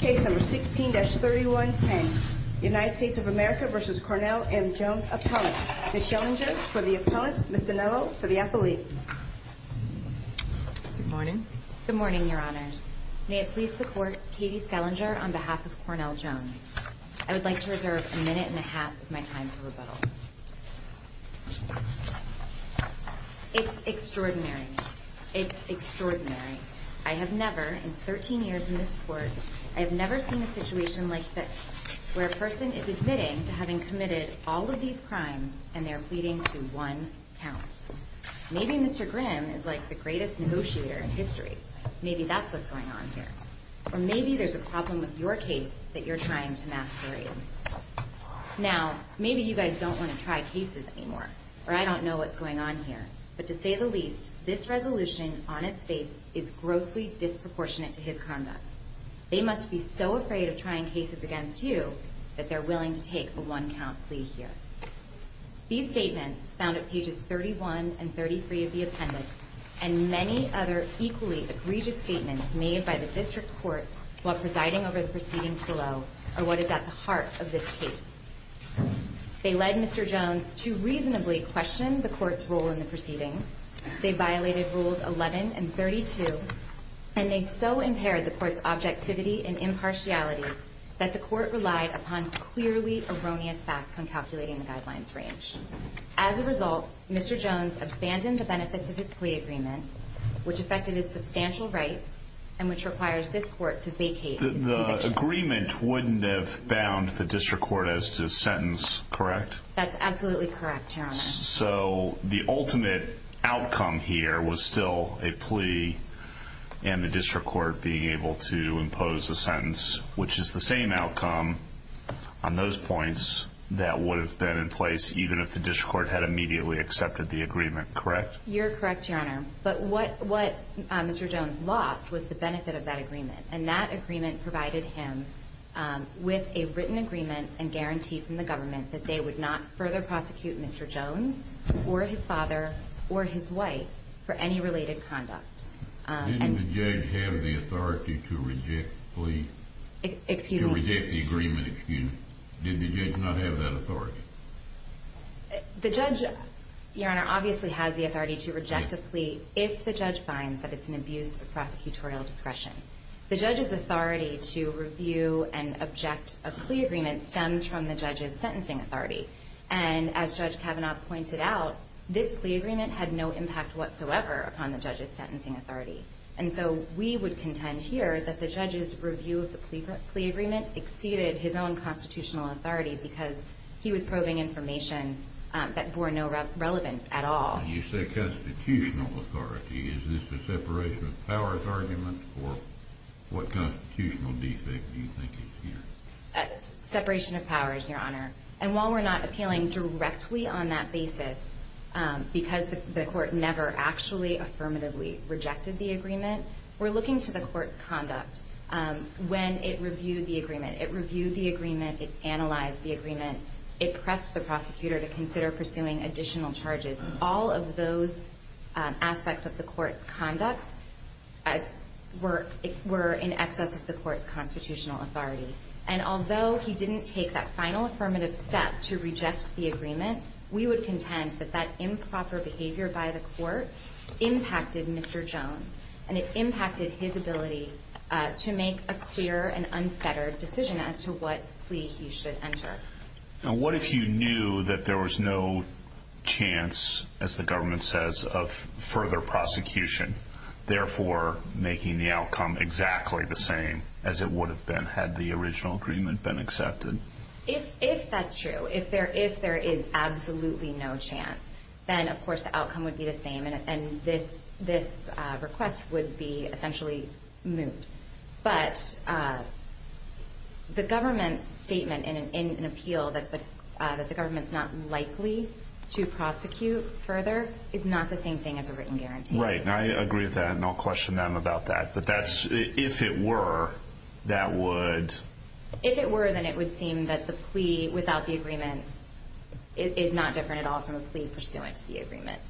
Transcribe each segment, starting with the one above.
Case number 16-3110. United States of America v. Cornell M. Jones Appellant. Ms. Schellinger for the appellant. Ms. Dinello for the appellate. Good morning. Good morning, your honors. May it please the court, Katie Schellinger on behalf of Cornell Jones. I would like to reserve a minute and a half of my time for rebuttal. It's extraordinary. It's extraordinary. I have never, in 13 years in this court, I have never seen a situation like this, where a person is admitting to having committed all of these crimes and they're pleading to one count. Maybe Mr. Grimm is like the greatest negotiator in history. Maybe that's what's going on here. Or maybe there's a problem with your case that you're trying to masquerade. Now, maybe you guys don't want to try cases anymore. Or I don't know what's going on here. But to say the least, this resolution on its face is grossly disproportionate to his conduct. They must be so afraid of trying cases against you that they're willing to take a one count plea here. These statements, found at pages 31 and 33 of the appendix, and many other equally egregious statements made by the district court while presiding over the proceedings below, are what is at the heart of this case. They led Mr. Jones to reasonably question the court's role in the proceedings. They violated rules 11 and 32. And they so impaired the court's objectivity and impartiality that the court relied upon clearly erroneous facts when calculating the guidelines range. As a result, Mr. Jones abandoned the benefits of his plea agreement, which affected his substantial rights and which requires this court to vacate. The agreement wouldn't have bound the district court as to sentence, correct? So the ultimate outcome here was still a plea and the district court being able to impose a sentence, which is the same outcome on those points that would have been in place even if the district court had immediately accepted the agreement, correct? You're correct, Your Honor. But what Mr. Jones lost was the benefit of that agreement. And that agreement provided him with a written agreement and guarantee from the government that they would not further prosecute Mr. Jones or his father or his wife for any related conduct. Didn't the judge have the authority to reject the agreement? Did the judge not have that authority? The judge, Your Honor, obviously has the authority to reject a plea if the judge finds that it's an abuse of prosecutorial discretion. The judge's authority to review and object a plea agreement stems from the judge's sentencing authority. And as Judge Kavanaugh pointed out, this plea agreement had no impact whatsoever upon the judge's sentencing authority. And so we would contend here that the judge's review of the plea agreement exceeded his own constitutional authority because he was probing information that bore no relevance at all. When you say constitutional authority, is this a separation of powers argument or what constitutional defect do you think is here? Separation of powers, Your Honor. And while we're not appealing directly on that basis because the court never actually affirmatively rejected the agreement, we're looking to the court's conduct. When it reviewed the agreement, it reviewed the agreement, it analyzed the agreement, it pressed the prosecutor to consider pursuing additional charges. All of those aspects of the court's conduct were in excess of the court's constitutional authority. And although he didn't take that final affirmative step to reject the agreement, we would contend that that improper behavior by the court impacted Mr. Jones. And it impacted his ability to make a clear and unfettered decision as to what plea he should enter. Now what if you knew that there was no chance, as the government says, of further prosecution, therefore making the outcome exactly the same as it would have been had the original agreement been accepted? If that's true, if there is absolutely no chance, then of course the outcome would be the same and this request would be essentially moved. But the government's statement in an appeal that the government's not likely to prosecute further is not the same thing as a written guarantee. Right, and I agree with that and I'll question them about that. But if it were, that would... If it were, then it would seem that the plea without the agreement is not different at all from a plea pursuant to the agreement.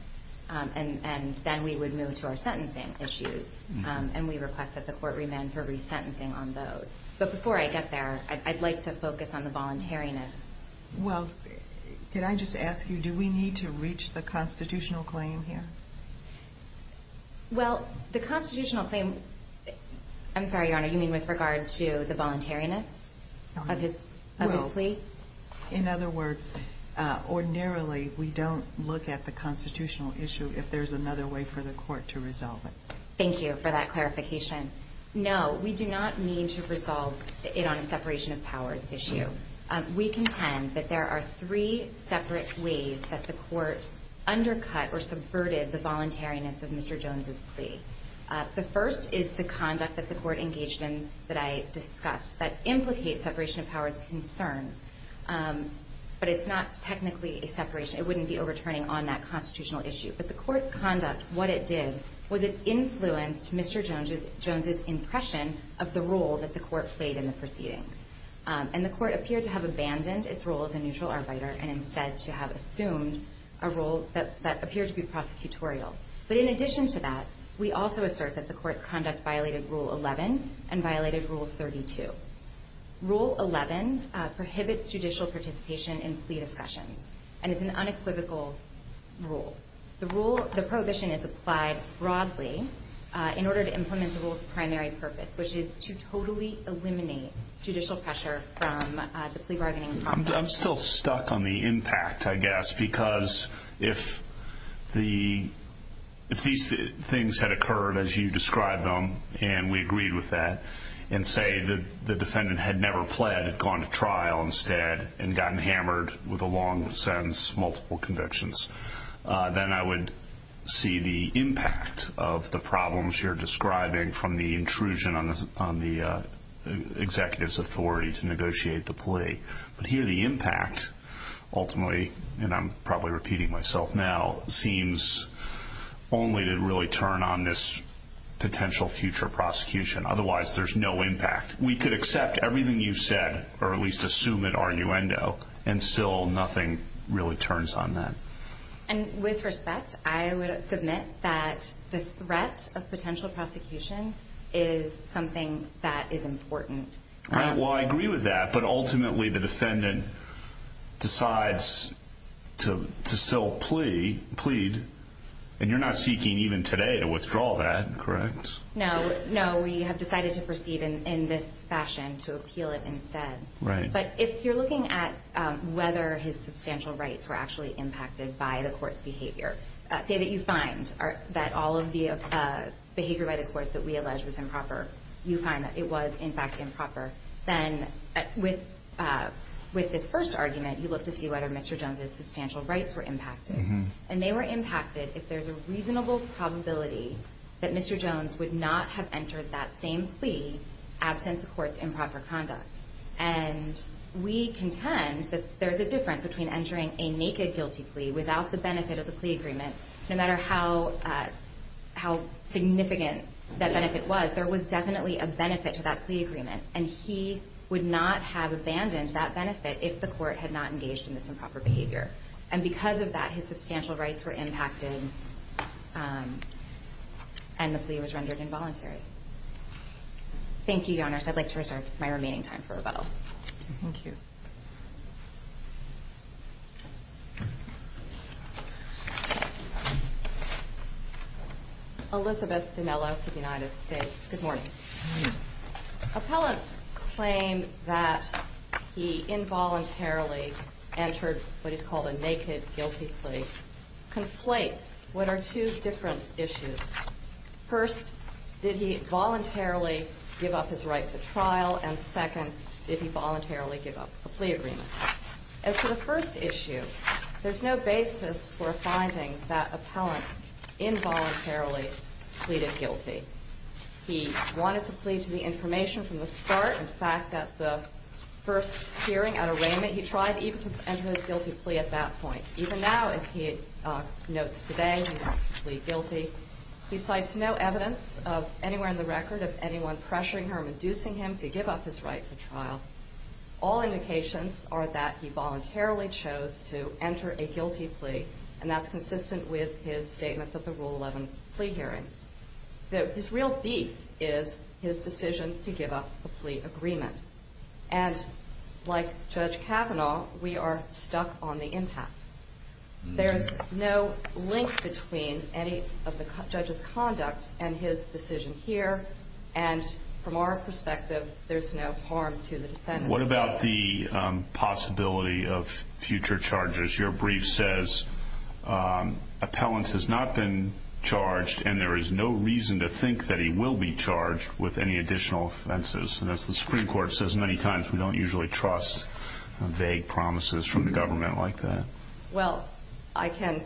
And then we would move to our sentencing issues and we request that the court remand for resentencing on those. But before I get there, I'd like to focus on the voluntariness. Well, can I just ask you, do we need to reach the constitutional claim here? Well, the constitutional claim... I'm sorry, Your Honor, you mean with regard to the voluntariness of his plea? In other words, ordinarily we don't look at the constitutional issue if there's another way for the court to resolve it. Thank you for that clarification. No, we do not need to resolve it on a separation of powers issue. We contend that there are three separate ways that the court undercut or subverted the voluntariness of Mr. Jones's plea. The first is the conduct that the court engaged in that I discussed that implicates separation of powers concerns. But it's not technically a separation. It wouldn't be overturning on that constitutional issue. But the court's conduct, what it did, was it influenced Mr. Jones's impression of the role that the court played in the proceedings. And the court appeared to have abandoned its role as a neutral arbitrator and instead to have assumed a role that appeared to be prosecutorial. But in addition to that, we also assert that the court's conduct violated Rule 11 and violated Rule 32. Rule 11 prohibits judicial participation in plea discussions, and it's an unequivocal rule. The prohibition is applied broadly in order to implement the rule's primary purpose, which is to totally eliminate judicial pressure from the plea bargaining process. I'm still stuck on the impact, I guess, because if these things had occurred as you described them, and we agreed with that, and say the defendant had never pled, had gone to trial instead, and gotten hammered with a long sentence, multiple convictions, then I would see the impact of the problems you're describing from the intrusion on the executive's authority to negotiate the plea. But here, the impact, ultimately, and I'm probably repeating myself now, seems only to really turn on this potential future prosecution. Otherwise, there's no impact. We could accept everything you've said, or at least assume it arguendo, and still nothing really turns on that. And with respect, I would submit that the threat of potential prosecution is something that is important. Well, I agree with that, but ultimately the defendant decides to still plead, and you're not seeking even today to withdraw that, correct? No, we have decided to proceed in this fashion, to appeal it instead. But if you're looking at whether his substantial rights were actually impacted by the court's behavior, say that you find that all of the behavior by the court that we allege was improper, you find that it was, in fact, improper, then with this first argument, you look to see whether Mr. Jones' substantial rights were impacted. And they were impacted if there's a reasonable probability that Mr. Jones would not have entered that same plea absent the court's improper conduct. And we contend that there's a difference between entering a naked guilty plea without the benefit of the plea agreement. No matter how significant that benefit was, there was definitely a benefit to that plea agreement, and he would not have abandoned that benefit if the court had not engaged in this improper behavior. And because of that, his substantial rights were impacted, and the plea was rendered involuntary. Thank you, Your Honors. I'd like to reserve my remaining time for rebuttal. Thank you. Elizabeth Dinello for the United States. Good morning. Good morning. Appellants claim that he involuntarily entered what is called a naked guilty plea. Conflates what are two different issues. First, did he voluntarily give up his right to trial? And second, did he voluntarily give up a plea agreement? As for the first issue, there's no basis for finding that appellant involuntarily pleaded guilty. He wanted to plead to the information from the start. In fact, at the first hearing at arraignment, he tried even to enter his guilty plea at that point. Even now, as he notes today, he wants to plead guilty. He cites no evidence anywhere in the record of anyone pressuring him or inducing him to give up his right to trial. All indications are that he voluntarily chose to enter a guilty plea, and that's consistent with his statements at the Rule 11 plea hearing. His real beef is his decision to give up a plea agreement. And like Judge Kavanaugh, we are stuck on the impact. There's no link between any of the judge's conduct and his decision here, and from our perspective, there's no harm to the defendant. What about the possibility of future charges? Your brief says appellant has not been charged, and there is no reason to think that he will be charged with any additional offenses. And as the Supreme Court says many times, we don't usually trust vague promises from the government like that. Well, I can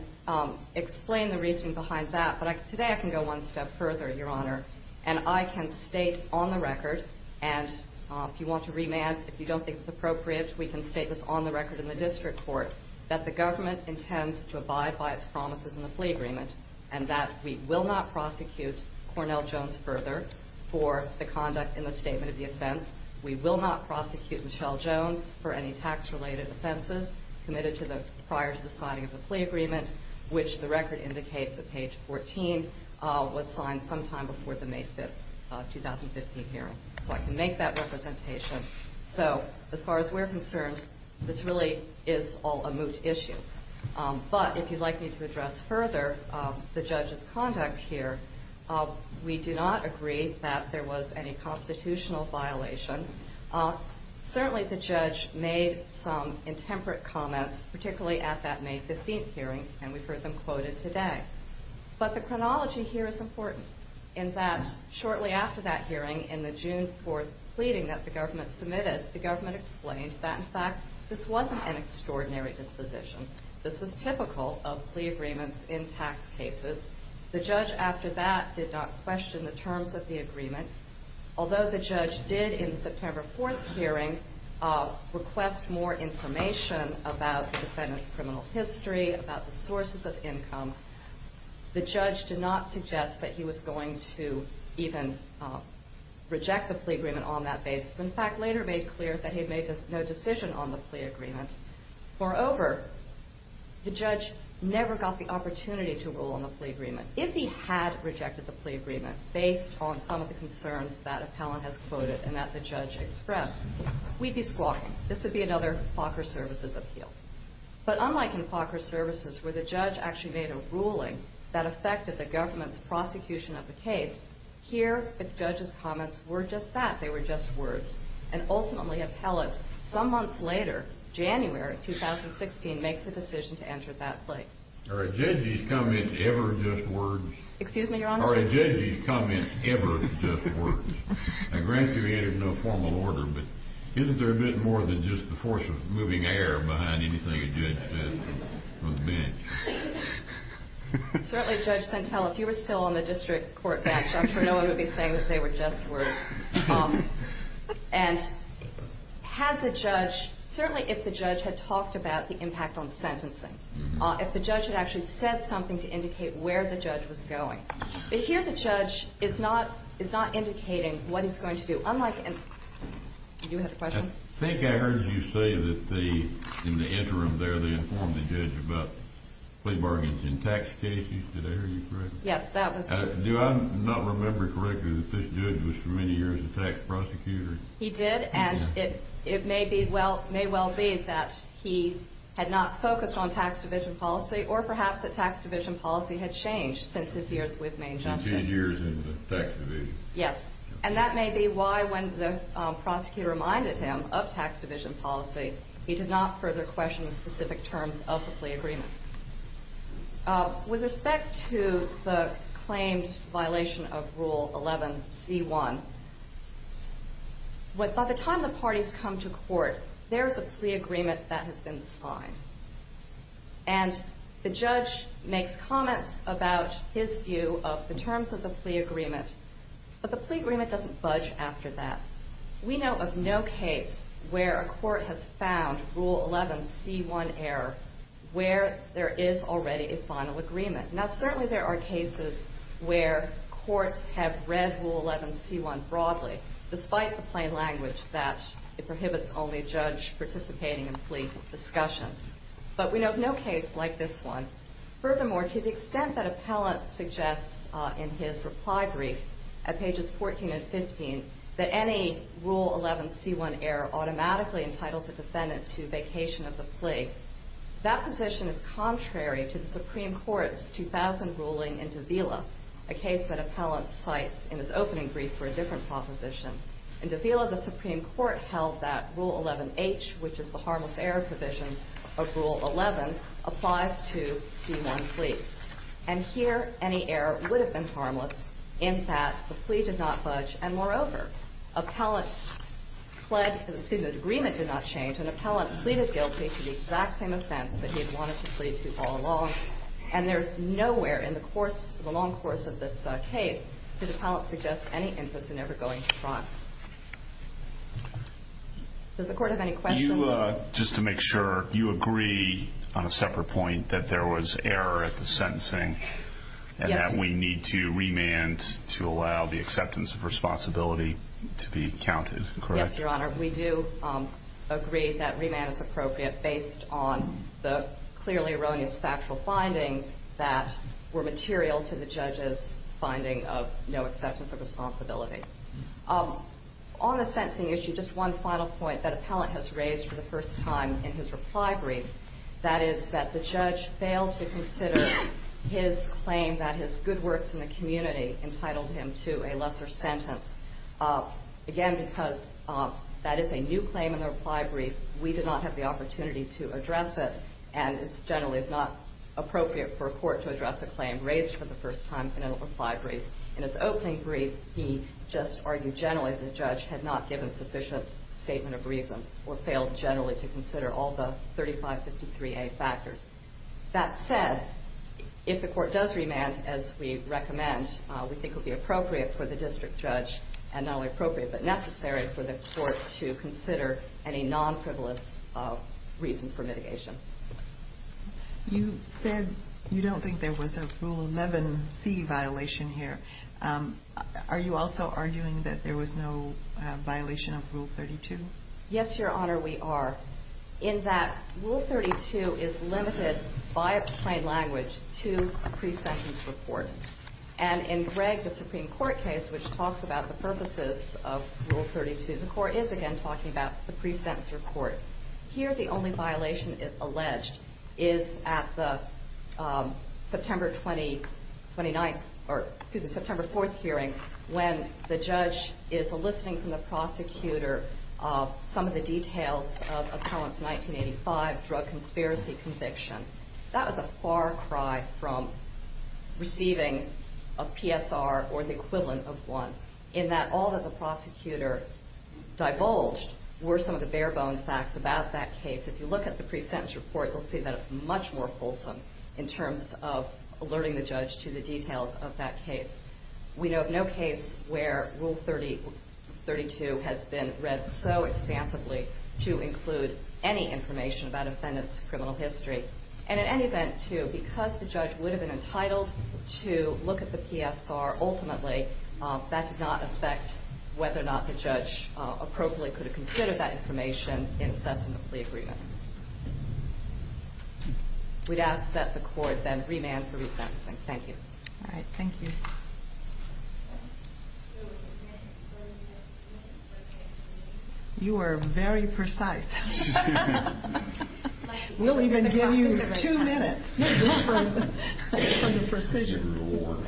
explain the reasoning behind that, but today I can go one step further, Your Honor, and I can state on the record, and if you want to remand, if you don't think it's appropriate, we can state this on the record in the district court, that the government intends to abide by its promises in the plea agreement and that we will not prosecute Cornell Jones further for the conduct in the statement of the offense. We will not prosecute Michelle Jones for any tax-related offenses committed prior to the signing of the plea agreement, which the record indicates at page 14 was signed sometime before the May 5, 2015, hearing. So I can make that representation. So as far as we're concerned, this really is all a moot issue. But if you'd like me to address further the judge's conduct here, we do not agree that there was any constitutional violation. Certainly the judge made some intemperate comments, particularly at that May 15 hearing, and we've heard them quoted today. But the chronology here is important in that shortly after that hearing, in the June 4 pleading that the government submitted, the government explained that, in fact, this wasn't an extraordinary disposition. This was typical of plea agreements in tax cases. The judge after that did not question the terms of the agreement. Although the judge did in the September 4 hearing request more information about the defendant's criminal history, about the sources of income, the judge did not suggest that he was going to even reject the plea agreement on that basis. In fact, later made clear that he had made no decision on the plea agreement. Moreover, the judge never got the opportunity to rule on the plea agreement. If he had rejected the plea agreement based on some of the concerns that appellant has quoted and that the judge expressed, we'd be squawking. This would be another FACR services appeal. But unlike in FACR services where the judge actually made a ruling that affected the government's prosecution of the case, here the judge's comments were just that. They were just words. And ultimately, appellant, some months later, January 2016, makes a decision to enter that plea. Are a judge's comments ever just words? Excuse me, Your Honor? Are a judge's comments ever just words? I grant you he had no formal order, but isn't there a bit more than just the force of moving air behind anything a judge says on the bench? Certainly, Judge Centella, if you were still on the district court bench, I'm sure no one would be saying that they were just words. And had the judge, certainly if the judge had talked about the impact on sentencing, if the judge had actually said something to indicate where the judge was going, but here the judge is not indicating what he's going to do. Unlike in, you had a question? I think I heard you say that in the interim there they informed the judge about plea bargains in tax cases. Did I hear you correctly? Yes, that was. Do I not remember correctly that this judge was for many years a tax prosecutor? He did, and it may well be that he had not focused on tax division policy or perhaps that tax division policy had changed since his years with Maine Justice. His years in the tax division. Yes, and that may be why when the prosecutor reminded him of tax division policy, he did not further question the specific terms of the plea agreement. With respect to the claimed violation of Rule 11C1, by the time the parties come to court, there is a plea agreement that has been signed. And the judge makes comments about his view of the terms of the plea agreement, but the plea agreement doesn't budge after that. We know of no case where a court has found Rule 11C1 error where there is already a final agreement. Now, certainly there are cases where courts have read Rule 11C1 broadly, despite the plain language that it prohibits only a judge participating in plea discussions. But we know of no case like this one. Furthermore, to the extent that Appellant suggests in his reply brief at pages 14 and 15 that any Rule 11C1 error automatically entitles a defendant to vacation of the plea, that position is contrary to the Supreme Court's 2000 ruling in Davila, a case that Appellant cites in his opening brief for a different proposition. In Davila, the Supreme Court held that Rule 11H, which is the harmless error provision of Rule 11, applies to C1 pleas. And here, any error would have been harmless in that the plea did not budge. And moreover, Appellant pledged that the agreement did not change, and Appellant pleaded guilty to the exact same offense that he had wanted to plead to all along. And there's nowhere in the course, the long course of this case, did Appellant suggest any interest in ever going to trial. Does the Court have any questions? You, just to make sure, you agree on a separate point that there was error at the sentencing? Yes. And that we need to remand to allow the acceptance of responsibility to be counted, correct? Yes, Your Honor. We do agree that remand is appropriate based on the clearly erroneous factual findings that were material to the judge's finding of no acceptance of responsibility. On the sentencing issue, just one final point that Appellant has raised for the first time in his reply brief, that is that the judge failed to consider his claim that his good works in the community entitled him to a lesser sentence. Again, because that is a new claim in the reply brief, we did not have the opportunity to address it, and it generally is not appropriate for a court to address a claim raised for the first time in a reply brief. In his opening brief, he just argued generally the judge had not given sufficient statement of reasons or failed generally to consider all the 3553A factors. That said, if the Court does remand, as we recommend, we think it would be appropriate for the district judge, and not only appropriate, but necessary for the Court to consider any non-frivolous reasons for mitigation. You said you don't think there was a Rule 11C violation here. Are you also arguing that there was no violation of Rule 32? Yes, Your Honor, we are. In that Rule 32 is limited by its plain language to a pre-sentence report. And in Gregg, the Supreme Court case, which talks about the purposes of Rule 32, the Court is again talking about the pre-sentence report. Here, the only violation alleged is at the September 4th hearing when the judge is eliciting from the prosecutor some of the details of Appellant's 1985 drug conspiracy conviction. That was a far cry from receiving a PSR or the equivalent of one, in that all that the prosecutor divulged were some of the bare-bone facts about that case. If you look at the pre-sentence report, you'll see that it's much more fulsome in terms of alerting the judge to the details of that case. We know of no case where Rule 32 has been read so expansively to include any information about Appellant's criminal history. And in any event, too, because the judge would have been entitled to look at the PSR, ultimately that did not affect whether or not the judge appropriately could have considered that information in assessing the plea agreement. We'd ask that the Court then remand for resentencing. Thank you. All right. Thank you. You are very precise. We'll even give you two minutes from the precision.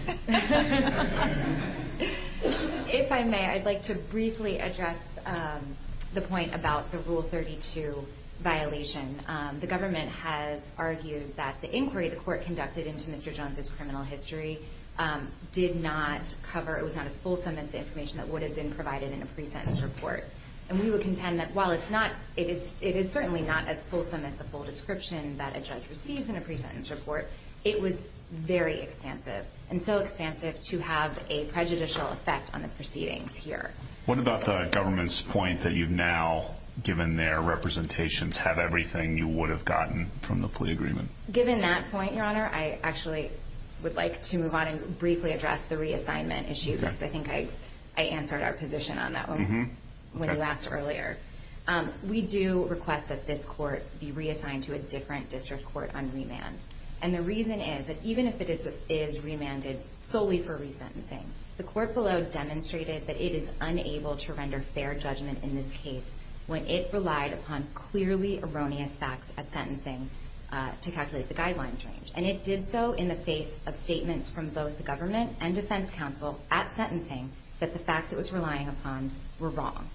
If I may, I'd like to briefly address the point about the Rule 32 violation. The government has argued that the inquiry the Court conducted into Mr. Jones' criminal history did not cover, it was not as fulsome as the information that would have been provided in a pre-sentence report. And we would contend that while it is certainly not as fulsome as the full description that a judge receives in a pre-sentence report, it was very expansive and so expansive to have a prejudicial effect on the proceedings here. What about the government's point that you've now, given their representations, have everything you would have gotten from the plea agreement? Given that point, Your Honor, I actually would like to move on and briefly address the reassignment issue because I think I answered our position on that one when you asked earlier. We do request that this Court be reassigned to a different district court on remand. And the reason is that even if it is remanded solely for resentencing, the Court below demonstrated that it is unable to render fair judgment in this case when it relied upon clearly erroneous facts at sentencing to calculate the guidelines range. And it did so in the face of statements from both the government and defense counsel at sentencing that the facts it was relying upon were wrong.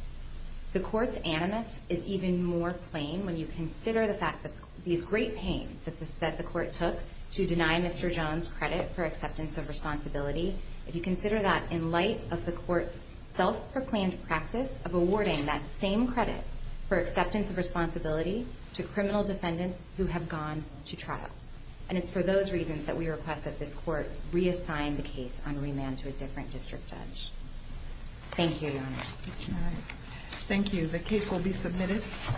The Court's animus is even more plain when you consider the fact that these great pains that the Court took to deny Mr. Jones credit for acceptance of responsibility, if you consider that in light of the Court's self-proclaimed practice of awarding that same credit for acceptance of responsibility to criminal defendants who have gone to trial. And it's for those reasons that we request that this Court reassign the case on remand to a different district judge. Thank you, Your Honor. Thank you. The case will be submitted.